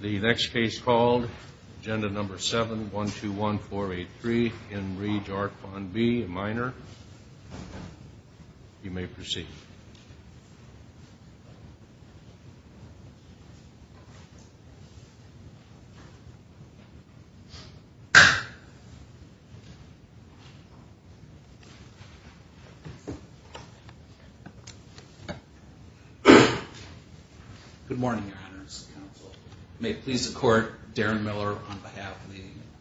The next case called, Agenda Number 7-121483 in re Jarquan B, minor. You may proceed. Good morning, Your Honors. May it please the Court, Darren Miller on behalf of the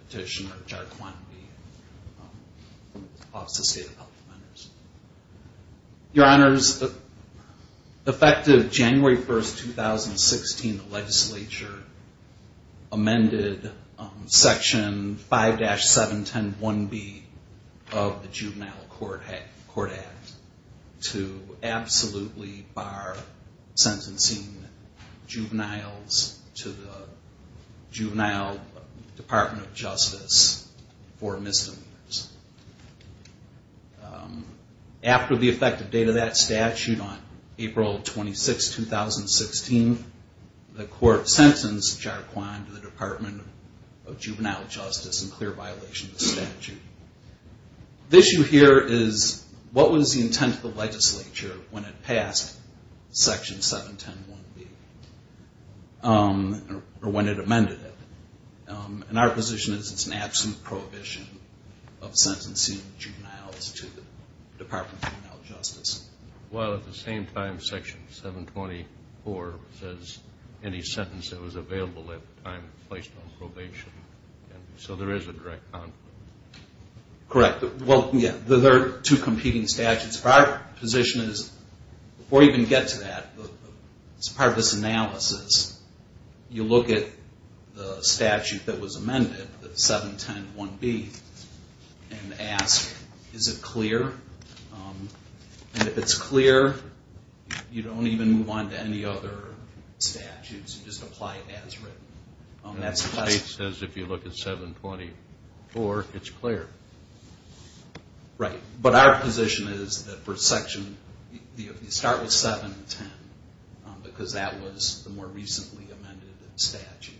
petitioner, Jarquan B, Office of State and Public Affairs. Your Honors, effective January 1, 2016, the legislature amended Section 5-7101B of the Juvenile Court Act to absolutely bar sentencing juveniles to the Juvenile Department of Justice for misdemeanors. After the effective date of that statute on April 26, 2016, the Court sentenced Jarquan to the Department of Juvenile Justice in clear violation of the statute. The issue here is, what was the intent of the legislature when it passed Section 7-7101B, or when it amended it? And our position is it's an absolute prohibition of sentencing juveniles to the Department of Juvenile Justice. Well, at the same time, Section 724 says any sentence that was available at the time was placed on probation. So there is a direct conflict. Correct. Well, there are two competing statutes. Our position is, before we even get to that, as part of this analysis, you look at the statute that was amended, 7101B, and ask, is it clear? And if it's clear, you don't even move on to any other statutes. You just apply it as written. And the state says if you look at 724, it's clear. Right. But our position is that for Section, you start with 710, because that was the more recently amended statute.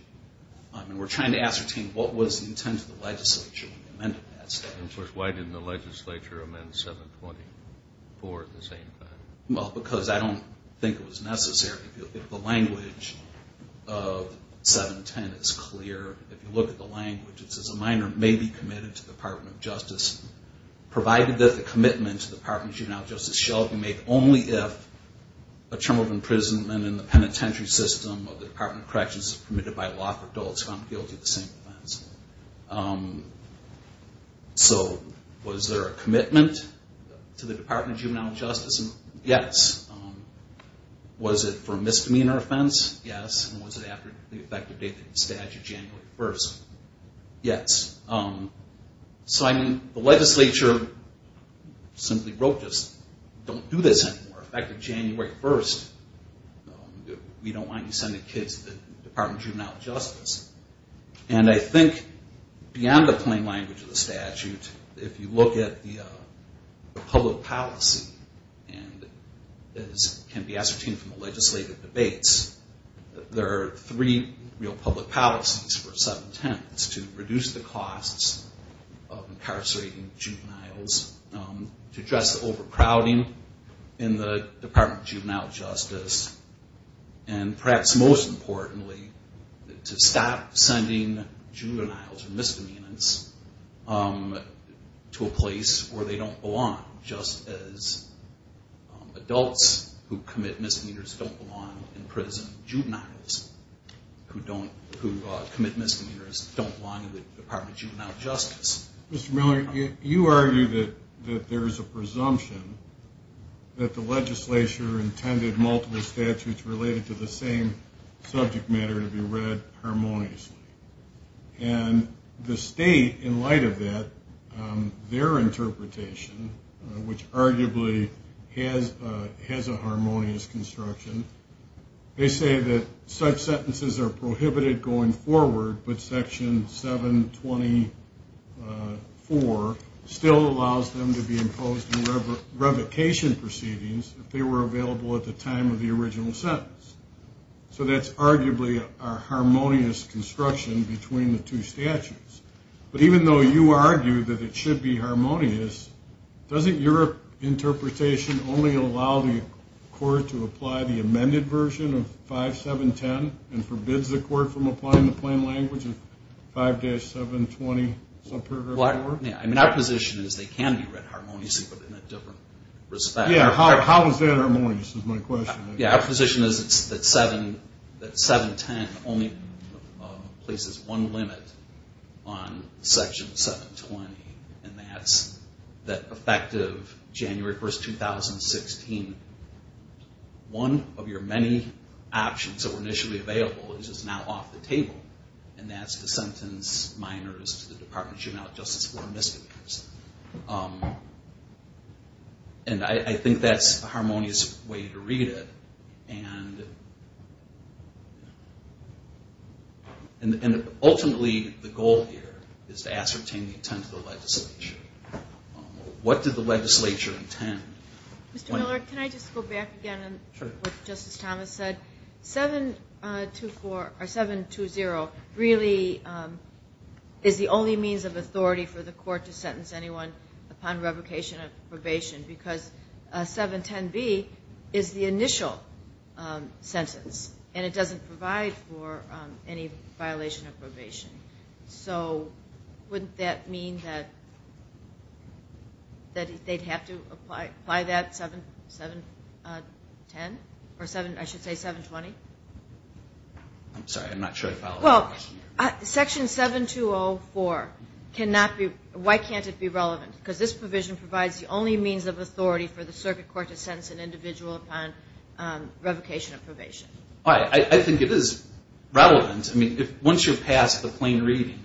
And we're trying to ascertain what was the intent of the legislature when they amended that statute. And of course, why didn't the legislature amend 724 at the same time? Well, because I don't think it was necessary. If the language of 710 is clear, if you look at the language, it says a minor may be committed to the Department of Justice, provided that the commitment to the Department of Juvenile Justice shall be made only if a term of imprisonment in the penitentiary system of the Department of Corrections is permitted by law for adults found guilty of the same offense. So was there a commitment to the Department of Juvenile Justice? Yes. Was it for a misdemeanor offense? Yes. And was it after the effective date of the statute, January 1st? Yes. So I mean, the legislature simply wrote this. Don't do this anymore. Effective January 1st, we don't want you sending kids to the Department of Juvenile Justice. And I think beyond the plain language of the statute, if you look at the public policy, and as can be ascertained from the legislative debates, there are three real public policies for 710. It's to reduce the costs of incarcerating juveniles, to address the overcrowding in the Department of Juvenile Justice, and perhaps most importantly, to stop sending juveniles or misdemeanors to a place where they don't belong, just as adults who commit misdemeanors don't belong in prison. Mr. Miller, you argue that there is a presumption that the legislature intended multiple statutes related to the same subject matter to be read harmoniously, and the state, in light of that, their interpretation, which arguably has a harmonious construction, they say that such sentences are prohibited going forward, but Section 724 still allows them to be imposed in revocation proceedings if they were available at the time of the original sentence. So that's arguably a harmonious construction between the two statutes. But even though you argue that it should be harmonious, doesn't your interpretation only allow the court to apply the amended version of 5710 and forbids the court from applying the plain language of 5-720 subparagraph 4? I mean, our position is they can be read harmoniously, but in a different respect. Yeah, how is that harmonious is my question. Yeah, our position is that 710 only places one limit on Section 720, and that's that effective January 1, 2016, one of your many options that were initially available is now off the table, and that's to sentence minors to the Department of Juvenile Justice for misdemeanors. And I think that's a harmonious way to read it, and ultimately the goal here is to ascertain the intent of the legislature. What did the legislature intend? Mr. Miller, can I just go back again on what Justice Thomas said? 720 really is the only means of authority for the court to sentence anyone upon revocation of probation because 710B is the initial sentence, and it doesn't provide for any violation of probation. So wouldn't that mean that they'd have to apply that 710, or I should say 720? I'm sorry, I'm not sure I followed that question. Well, Section 7204, why can't it be relevant? Because this provision provides the only means of authority for the circuit court to sentence an individual upon revocation of probation. I think it is relevant. I mean, once you're past the plain reading,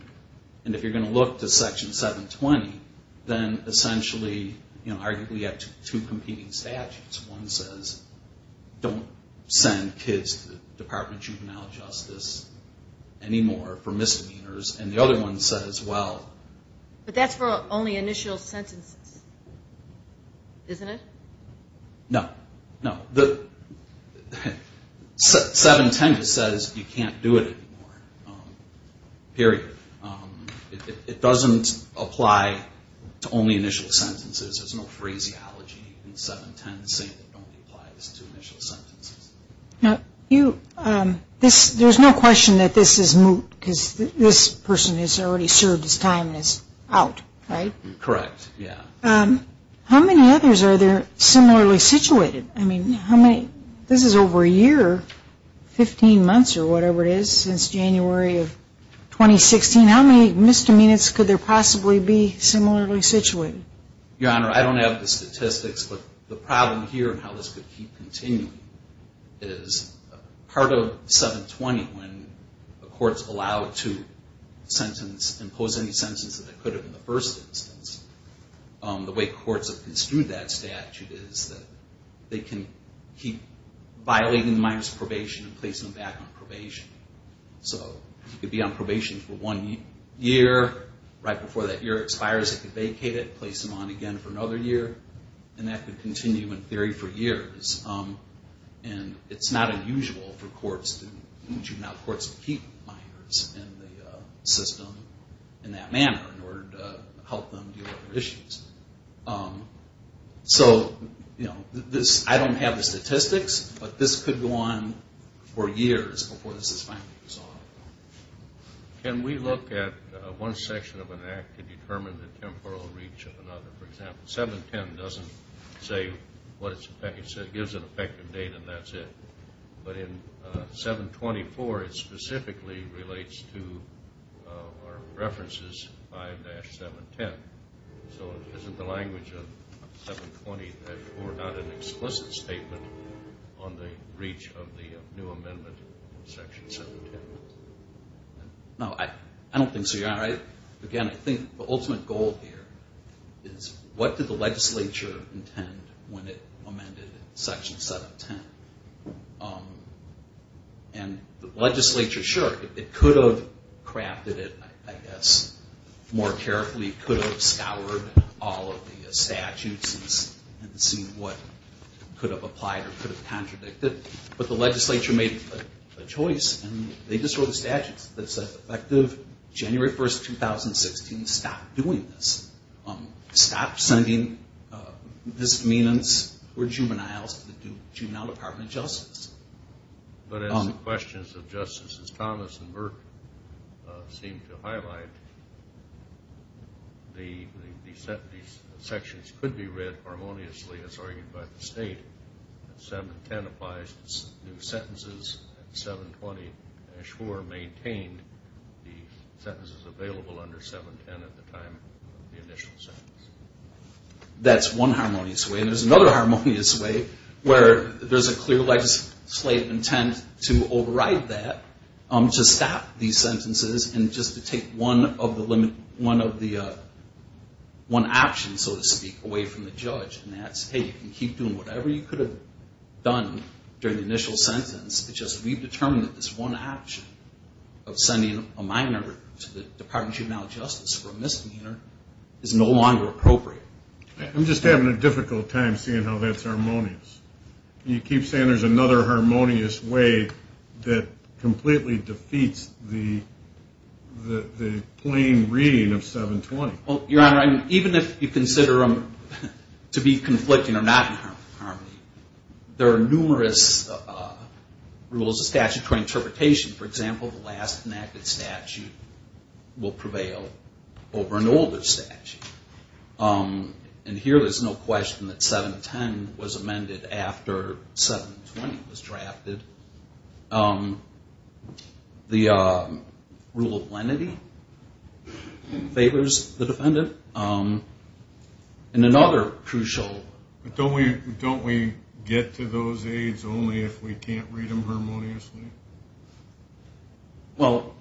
and if you're going to look to Section 720, then essentially, you know, arguably you have two competing statutes. One says don't send kids to the Department of Juvenile Justice anymore for misdemeanors, and the other one says, well... But that's for only initial sentences, isn't it? No, no. 710 says you can't do it anymore. Period. It doesn't apply to only initial sentences. There's no phraseology in 710 saying don't apply this to initial sentences. Now, there's no question that this is moot because this person has already served his time and is out, right? Correct, yeah. How many others are there similarly situated? I mean, this is over a year, 15 months or whatever it is, since January of 2016. How many misdemeanors could there possibly be similarly situated? Your Honor, I don't have the statistics, but the problem here and how this could keep continuing is part of 720 when the courts allow it to sentence, impose any sentence that they could have in the first instance, the way courts have construed that statute is that they can keep violating the minor's probation and place them back on probation. So they could be on probation for one year, right before that year expires they could vacate it, place them on again for another year, and that could continue in theory for years. And it's not unusual for courts to keep minors in the system in that manner in order to help them deal with their issues. So, you know, I don't have the statistics, but this could go on for years before this is finally resolved. Can we look at one section of an act to determine the temporal reach of another? For example, 710 doesn't say what it's effective, but in 724 it specifically relates to our references 5-710. So isn't the language of 720 therefore not an explicit statement on the reach of the new amendment in section 710? No, I don't think so. Again, I think the ultimate goal here is what did the legislature intend when it amended section 710? And the legislature, sure, it could have crafted it, I guess, more carefully, could have scoured all of the statutes and seen what could have applied or could have contradicted, but the legislature made a choice and they just wrote a statute that said effective January 1st, 2016, stop doing this. Stop sending misdemeanants or juveniles to the juvenile department of justice. But as the questions of Justices Thomas and Burke seem to highlight, these sections could be read harmoniously as argued by the state. 710 applies to new sentences and 720-4 maintained the sentences available under 710 at the time of the initial sentence. That's one harmonious way and there's another harmonious way where there's a clear legislative intent to override that to stop these sentences and just to take one of the options, so to speak, away from the judge. And that's, hey, you can keep doing whatever you could have done during the initial sentence, it's just we've determined that this one option of sending a minor to the Department of Juvenile Justice for a misdemeanor is no longer appropriate. I'm just having a difficult time seeing how that's harmonious. You keep saying there's another harmonious way that completely defeats the plain reading of 720. Well, Your Honor, even if you consider them to be conflicting or not in harmony, there are numerous rules of statutory interpretation. For example, the last enacted statute will prevail over an older statute. And here there's no question that 710 was amended after 720 was drafted. The rule of lenity favors the defendant. And another crucial... But don't we get to those aides only if we can't read them harmoniously? Well,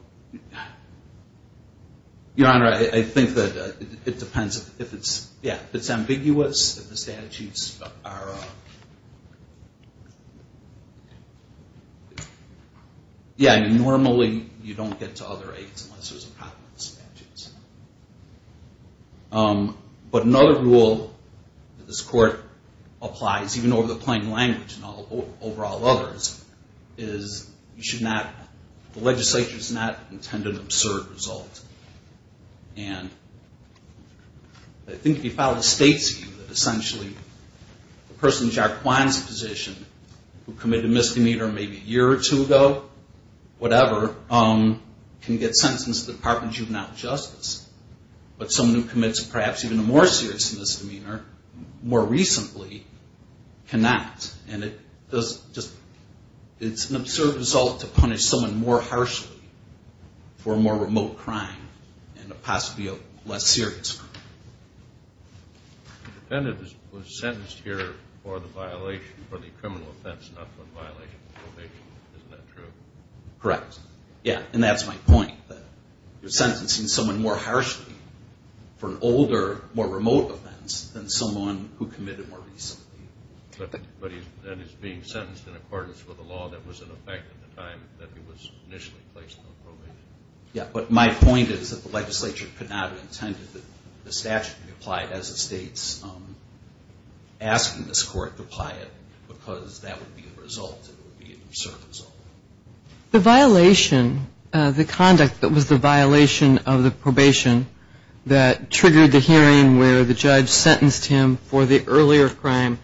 Your Honor, I think that it depends if it's ambiguous, if the statutes are... Yeah, normally you don't get to other aides unless there's a problem with the statutes. But another rule that this Court applies, even over the plain language and over all others, is you should not... The legislature does not intend an absurd result. And I think if you file a state suit, essentially the person in Jack Kwan's position who committed a misdemeanor maybe a year or two ago, whatever, can get sentenced to the Department of Juvenile Justice. But someone who commits perhaps even a more serious misdemeanor more recently cannot. And it's an absurd result to punish someone more harshly for a more remote crime and possibly a less serious crime. The defendant was sentenced here for the violation, for the criminal offense, not for the violation of probation. Isn't that true? Correct. Yeah, and that's my point, that you're sentencing someone more harshly for an older, more remote offense than someone who committed more recently. But he's being sentenced in accordance with a law that was in effect at the time that he was initially placed on probation. Yeah, but my point is that the legislature could not have intended that the statute be applied as the state's asking this Court to apply it because that would be the result, it would be an absurd result. The violation, the conduct that was the violation of the probation that triggered the hearing where the judge sentenced him for the earlier crime,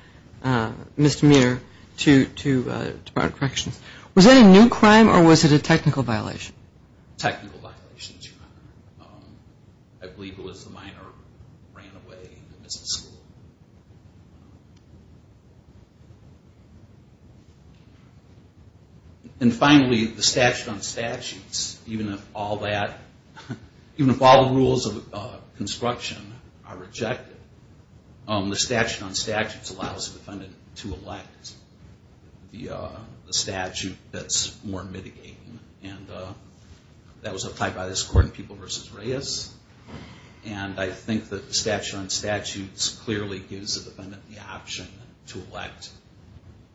misdemeanor, to Department of Corrections, was that a new crime or was it a technical violation? Technical violation, Your Honor. I believe it was the minor who ran away and missed school. And finally, the statute on statutes, even if all that, even if all the rules of construction are rejected, the statute on statutes allows the defendant to elect the statute that's more mitigating. And that was applied by this Court in People v. Reyes. And I think that the statute on statutes clearly gives the defendant the option to elect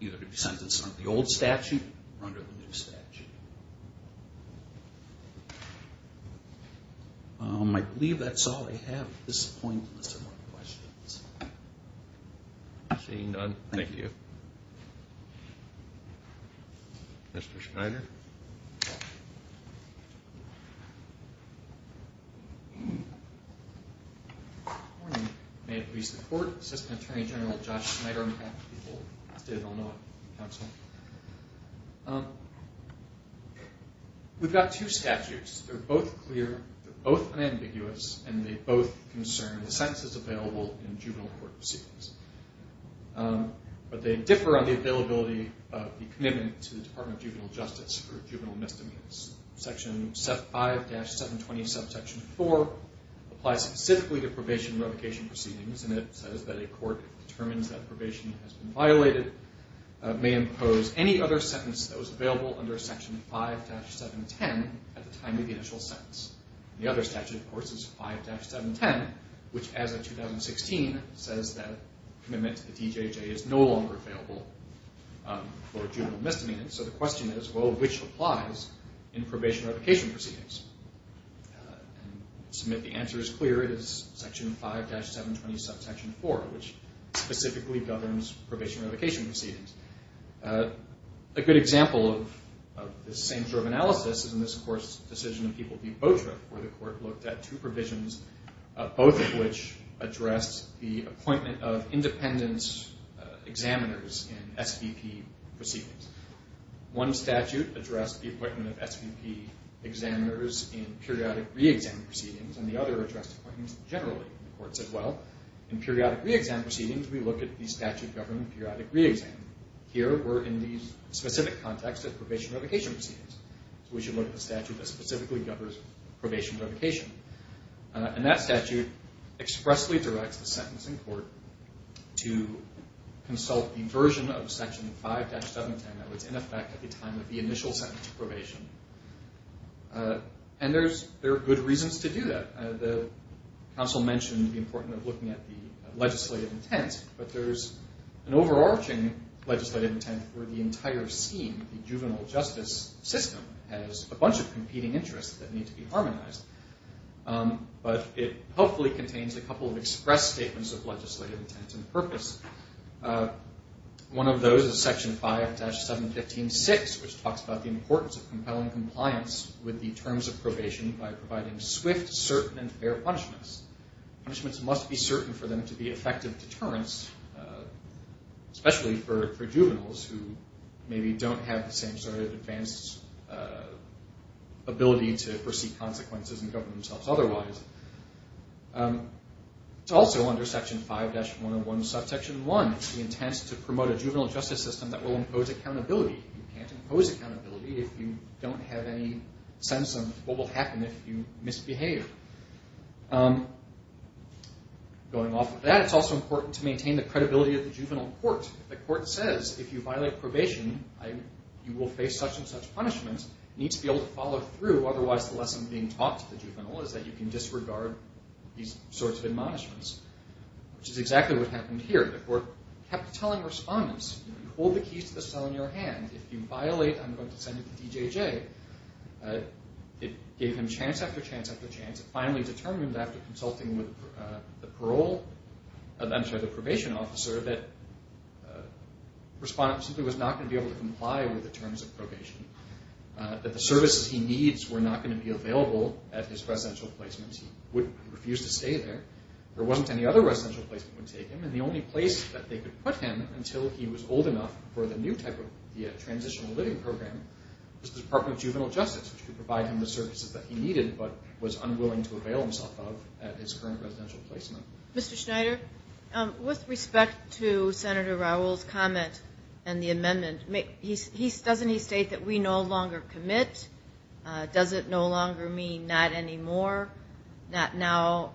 either to be sentenced under the old statute or under the new statute. I believe that's all I have at this point unless there are more questions. Seeing none, thank you. Mr. Schneider. Good morning. May it please the Court. Assistant Attorney General Josh Schneider on behalf of the people of the State of Illinois Counsel. We've got two statutes. They're both clear. They're both unambiguous. And they both concern the sentences available in juvenile court proceedings. But they differ on the availability of the commitment to the Department of Juvenile Justice for juvenile misdemeanors. Section 5-720 subsection 4 applies specifically to probation revocation proceedings. And it says that a court determines that probation has been violated may impose any other sentence that was available under Section 5-710 at the time of the initial sentence. The other statute, of course, is 5-710, which as of 2016 says that commitment to the DJJ is no longer available for juvenile misdemeanors. So the question is, well, which applies in probation revocation proceedings? And to me, the answer is clear. It is Section 5-720 subsection 4, which specifically governs probation revocation proceedings. A good example of this same sort of analysis is in this court's decision in People v. Botrick, where the court looked at two provisions, both of which addressed the appointment of independence examiners in SVP proceedings. One statute addressed the appointment of SVP examiners in periodic re-exam proceedings, and the other addressed appointments generally. The court said, well, in periodic re-exam proceedings, we look at the statute governing periodic re-exam. Here, we're in the specific context of probation revocation proceedings, so we should look at the statute that specifically governs probation revocation. And that statute expressly directs the sentencing court to consult the version of Section 5-710 that was in effect at the time of the initial sentence of probation. And there are good reasons to do that. The counsel mentioned the importance of looking at the legislative intent, but there's an overarching legislative intent where the entire scheme, the juvenile justice system, has a bunch of competing interests that need to be harmonized. But it hopefully contains a couple of express statements of legislative intent and purpose. One of those is Section 5-715.6, which talks about the importance of compelling compliance with the terms of probation by providing swift, certain, and fair punishments. Punishments must be certain for them to be effective deterrents, especially for juveniles who maybe don't have the same sort of advanced ability to foresee consequences and govern themselves otherwise. It's also under Section 5-101, subsection 1, the intent to promote a juvenile justice system that will impose accountability. You can't impose accountability if you don't have any sense of what will happen if you misbehave. Going off of that, it's also important to maintain the credibility of the juvenile court. If the court says, if you violate probation, you will face such and such punishment, you need to be able to follow through. Otherwise, the lesson being taught to the juvenile is that you can disregard these sorts of admonishments, which is exactly what happened here. The court kept telling respondents, hold the keys to the cell in your hand. If you violate, I'm going to send it to DJJ. It gave him chance after chance after chance. It finally determined after consulting with the probation officer that the respondent simply was not going to be able to comply with the terms of probation, that the services he needs were not going to be available at his residential placement. He refused to stay there. The only place they could put him until he was old enough for the new type of transitional living program was the Department of Juvenile Justice, which could provide him the services that he needed but was unwilling to avail himself of at his current residential placement. Mr. Schneider, with respect to Senator Raul's comment and the amendment, doesn't he state that we no longer commit? Does it no longer mean not anymore, not now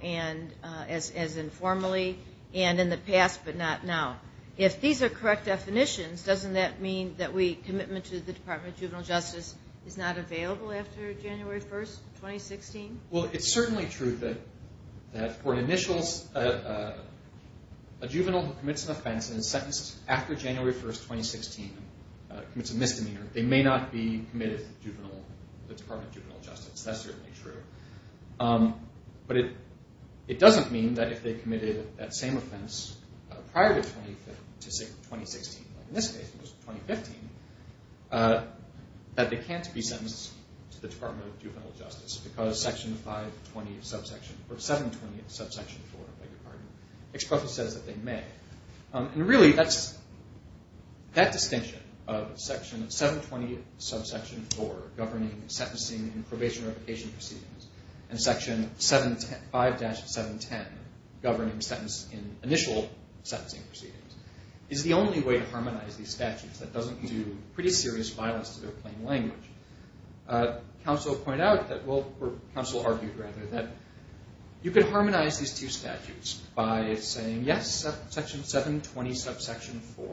as informally, and in the past but not now? If these are correct definitions, doesn't that mean that commitment to the Department of Juvenile Justice is not available after January 1, 2016? Well, it's certainly true that for an initials, a juvenile who commits an offense and is sentenced after January 1, 2016 and commits a misdemeanor, they may not be committed to the Department of Juvenile Justice. That's certainly true. But it doesn't mean that if they committed that same offense prior to January 1, 2016, in this case it was January 1, 2015, that they can't be sentenced to the Department of Juvenile Justice because Section 520 of Subsection 4, or 720 of Subsection 4, exposes that they may. And really, that distinction of Section 720 of Subsection 4 governing sentencing and probation and revocation proceedings and Section 5-710 governing initial sentencing proceedings is the only way to harmonize these statutes. That doesn't do pretty serious violence to their plain language. Counsel argued that you could harmonize these two statutes by saying, yes, Section 720 of Subsection 4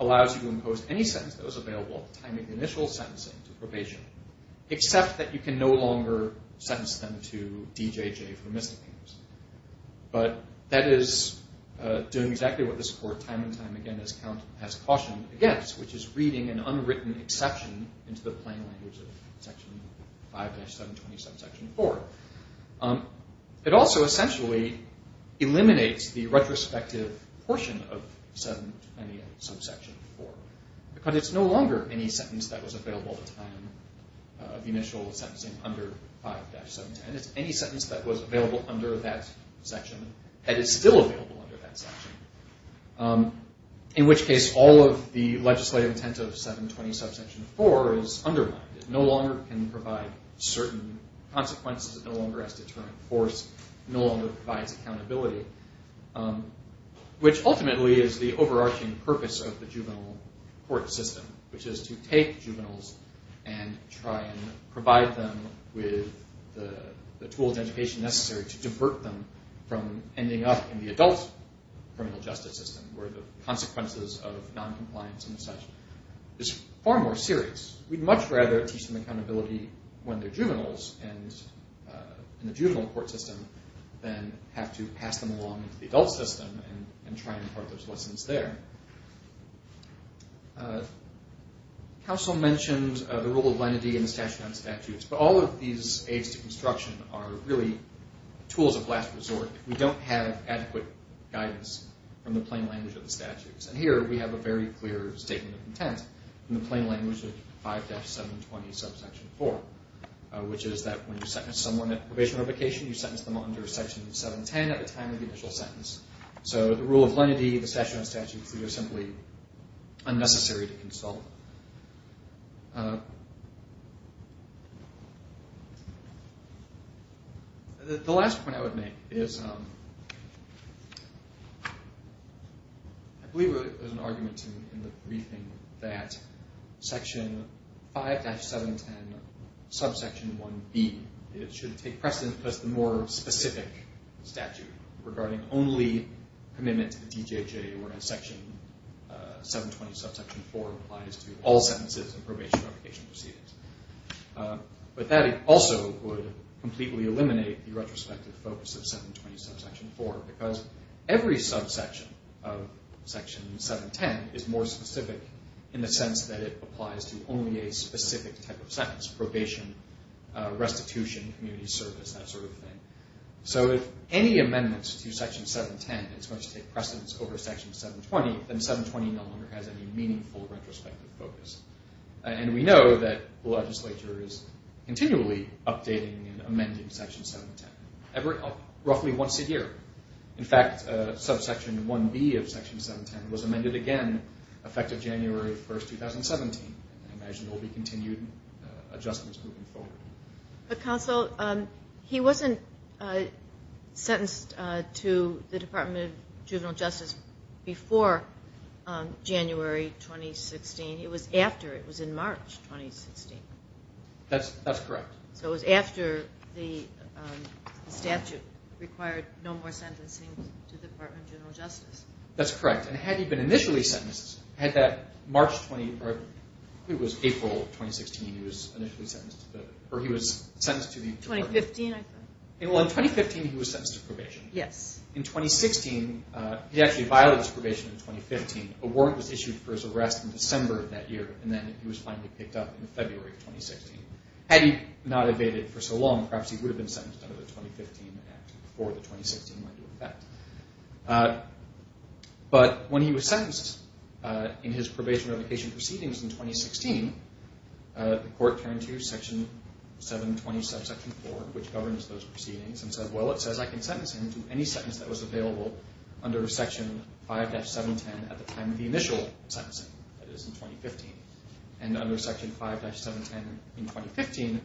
allows you to impose any sentence that was available at the time of initial sentencing to probation, except that you can no longer sentence them to DJJ for misdemeanors. But that is doing exactly what this Court time and time again has cautioned against, which is reading an unwritten exception into the plain language. Section 5-720 of Subsection 4. It also essentially eliminates the retrospective portion of 720 of Subsection 4, because it's no longer any sentence that was available at the time of initial sentencing under 5-710. It's any sentence that was available under that section that is still available under that section, in which case all of the legislative intent of 720 of Subsection 4 is undermined. It no longer can provide certain consequences. It no longer has to turn force. It no longer provides accountability, which ultimately is the overarching purpose of the juvenile court system, which is to take juveniles and try and provide them with the tools and education necessary to divert them from ending up in the adult criminal justice system, where the consequences of noncompliance and such is far more serious. We'd much rather teach them accountability when they're juveniles in the juvenile court system than have to pass them along to the adult system and try and impart those lessons there. Counsel mentioned the rule of lenity and the statute on statutes, but all of these aids to construction are really tools of last resort. We don't have adequate guidance from the plain language of the statutes, and here we have a very clear statement of intent in the plain language of 5-720 of Subsection 4, which is that when you sentence someone at probation or vacation, you sentence them under Section 710 at the time of the initial sentence. So the rule of lenity, the statute on statutes, they are simply unnecessary to consult. The last point I would make is, I believe there's an argument in the briefing that Section 5-710, Subsection 1B should take precedence because the more specific statute regarding only commitment to the DJJ where Section 720, Subsection 4 applies to all sentences and probation or vacation proceedings. But that also would completely eliminate the retrospective focus of 720, Subsection 4, because every subsection of Section 710 is more specific in the sense that it applies to only a specific type of sentence, probation, restitution, community service, that sort of thing. So if any amendment to Section 710 is going to take precedence over Section 720, then 720 no longer has any meaningful retrospective focus. And we know that the legislature is continually updating and amending Section 710, roughly once a year. In fact, Subsection 1B of Section 710 was amended again effective January 1, 2017. I imagine there will be continued adjustments moving forward. But Counsel, he wasn't sentenced to the Department of Juvenile Justice before January 2016. It was after. It was in March 2016. That's correct. So it was after the statute required no more sentencing to the Department of General Justice. That's correct. And had he been initially sentenced, had that March 20, or it was April 2016, he was initially sentenced to the, or he was sentenced to the. 2015, I think. Well, in 2015, he was sentenced to probation. Yes. In 2016, he actually violated his probation in 2015. A warrant was issued for his arrest in December of that year, and then he was finally picked up in February of 2016. Had he not evaded for so long, perhaps he would have been sentenced under the 2015 Act before the 2016 Act. But when he was sentenced in his probation revocation proceedings in 2016, the court turned to Section 720, Subsection 4, which governs those proceedings, and said, well, it says I can sentence him to any sentence that was available under Section 5-710 at the time of the initial sentencing. That is, in 2015. And under Section 5-710 in 2015,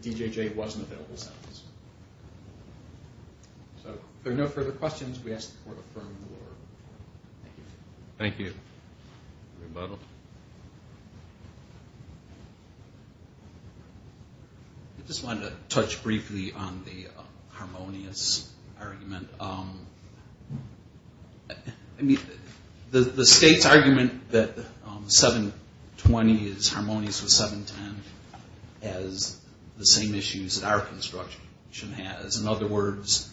the DJJ wasn't available to sentence. So if there are no further questions, we ask the court to affirm the order. Thank you. Thank you. Rebuttal. I just wanted to touch briefly on the harmonious argument. I mean, the state's argument that 720 is harmonious with 710 has the same issues that our construction has. In other words,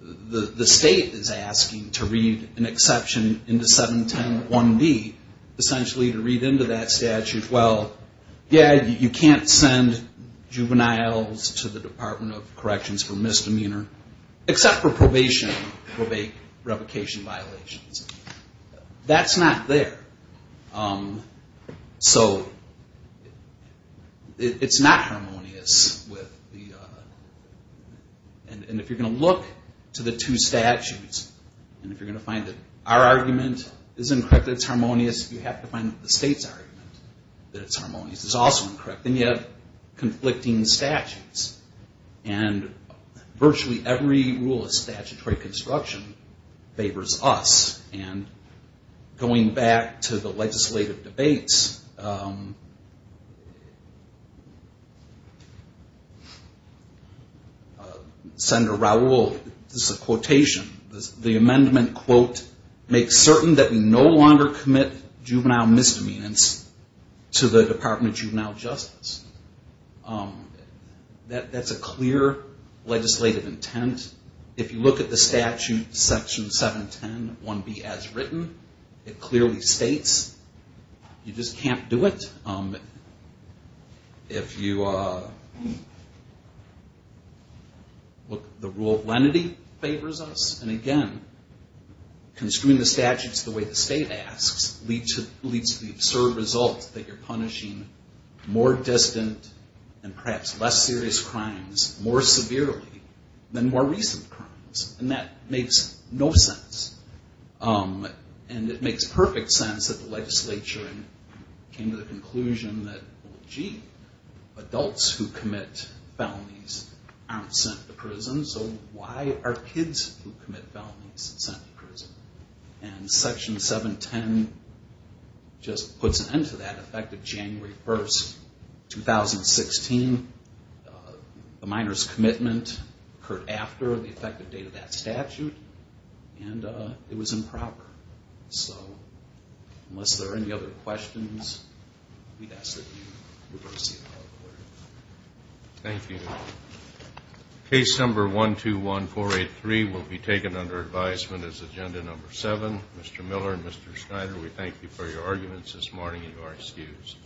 the state is asking to read an exception into 710-1B, essentially to say, to read into that statute, well, yeah, you can't send juveniles to the Department of Corrections for misdemeanor, except for probation revocation violations. That's not there. So it's not harmonious with the... And if you're going to look to the two statutes, and if you're going to find that our argument is incorrect that it's harmonious, you have to find that the state's argument that it's harmonious is also incorrect. Then you have conflicting statutes. And virtually every rule of statutory construction favors us. And going back to the legislative debates, Senator Raul, this is a quotation. The amendment, quote, makes certain that we no longer commit juvenile misdemeanors to the Department of Juvenile Justice. That's a clear legislative intent. If you look at the statute, section 710-1B as written, it clearly states, you just can't do it. The rule of lenity favors us. And again, construing the statute the way the state asks leads to the absurd result that you're punishing more distant and perhaps less serious crimes more severely than more recent crimes. And that makes no sense. And it makes perfect sense that the legislature came to the conclusion that, well, gee, adults who commit felonies aren't sent to prison. So why are kids who commit felonies sent to prison? And section 710 just puts an end to that. In fact, on January 1st, 2016, the minor's commitment occurred after the effective date of that statute. But it was improper. So unless there are any other questions, we'd ask that you reverse the appellate order. Thank you. Case number 121483 will be taken under advisement as agenda number 7. Mr. Miller and Mr. Schneider, we thank you for your arguments this morning, and you are excused.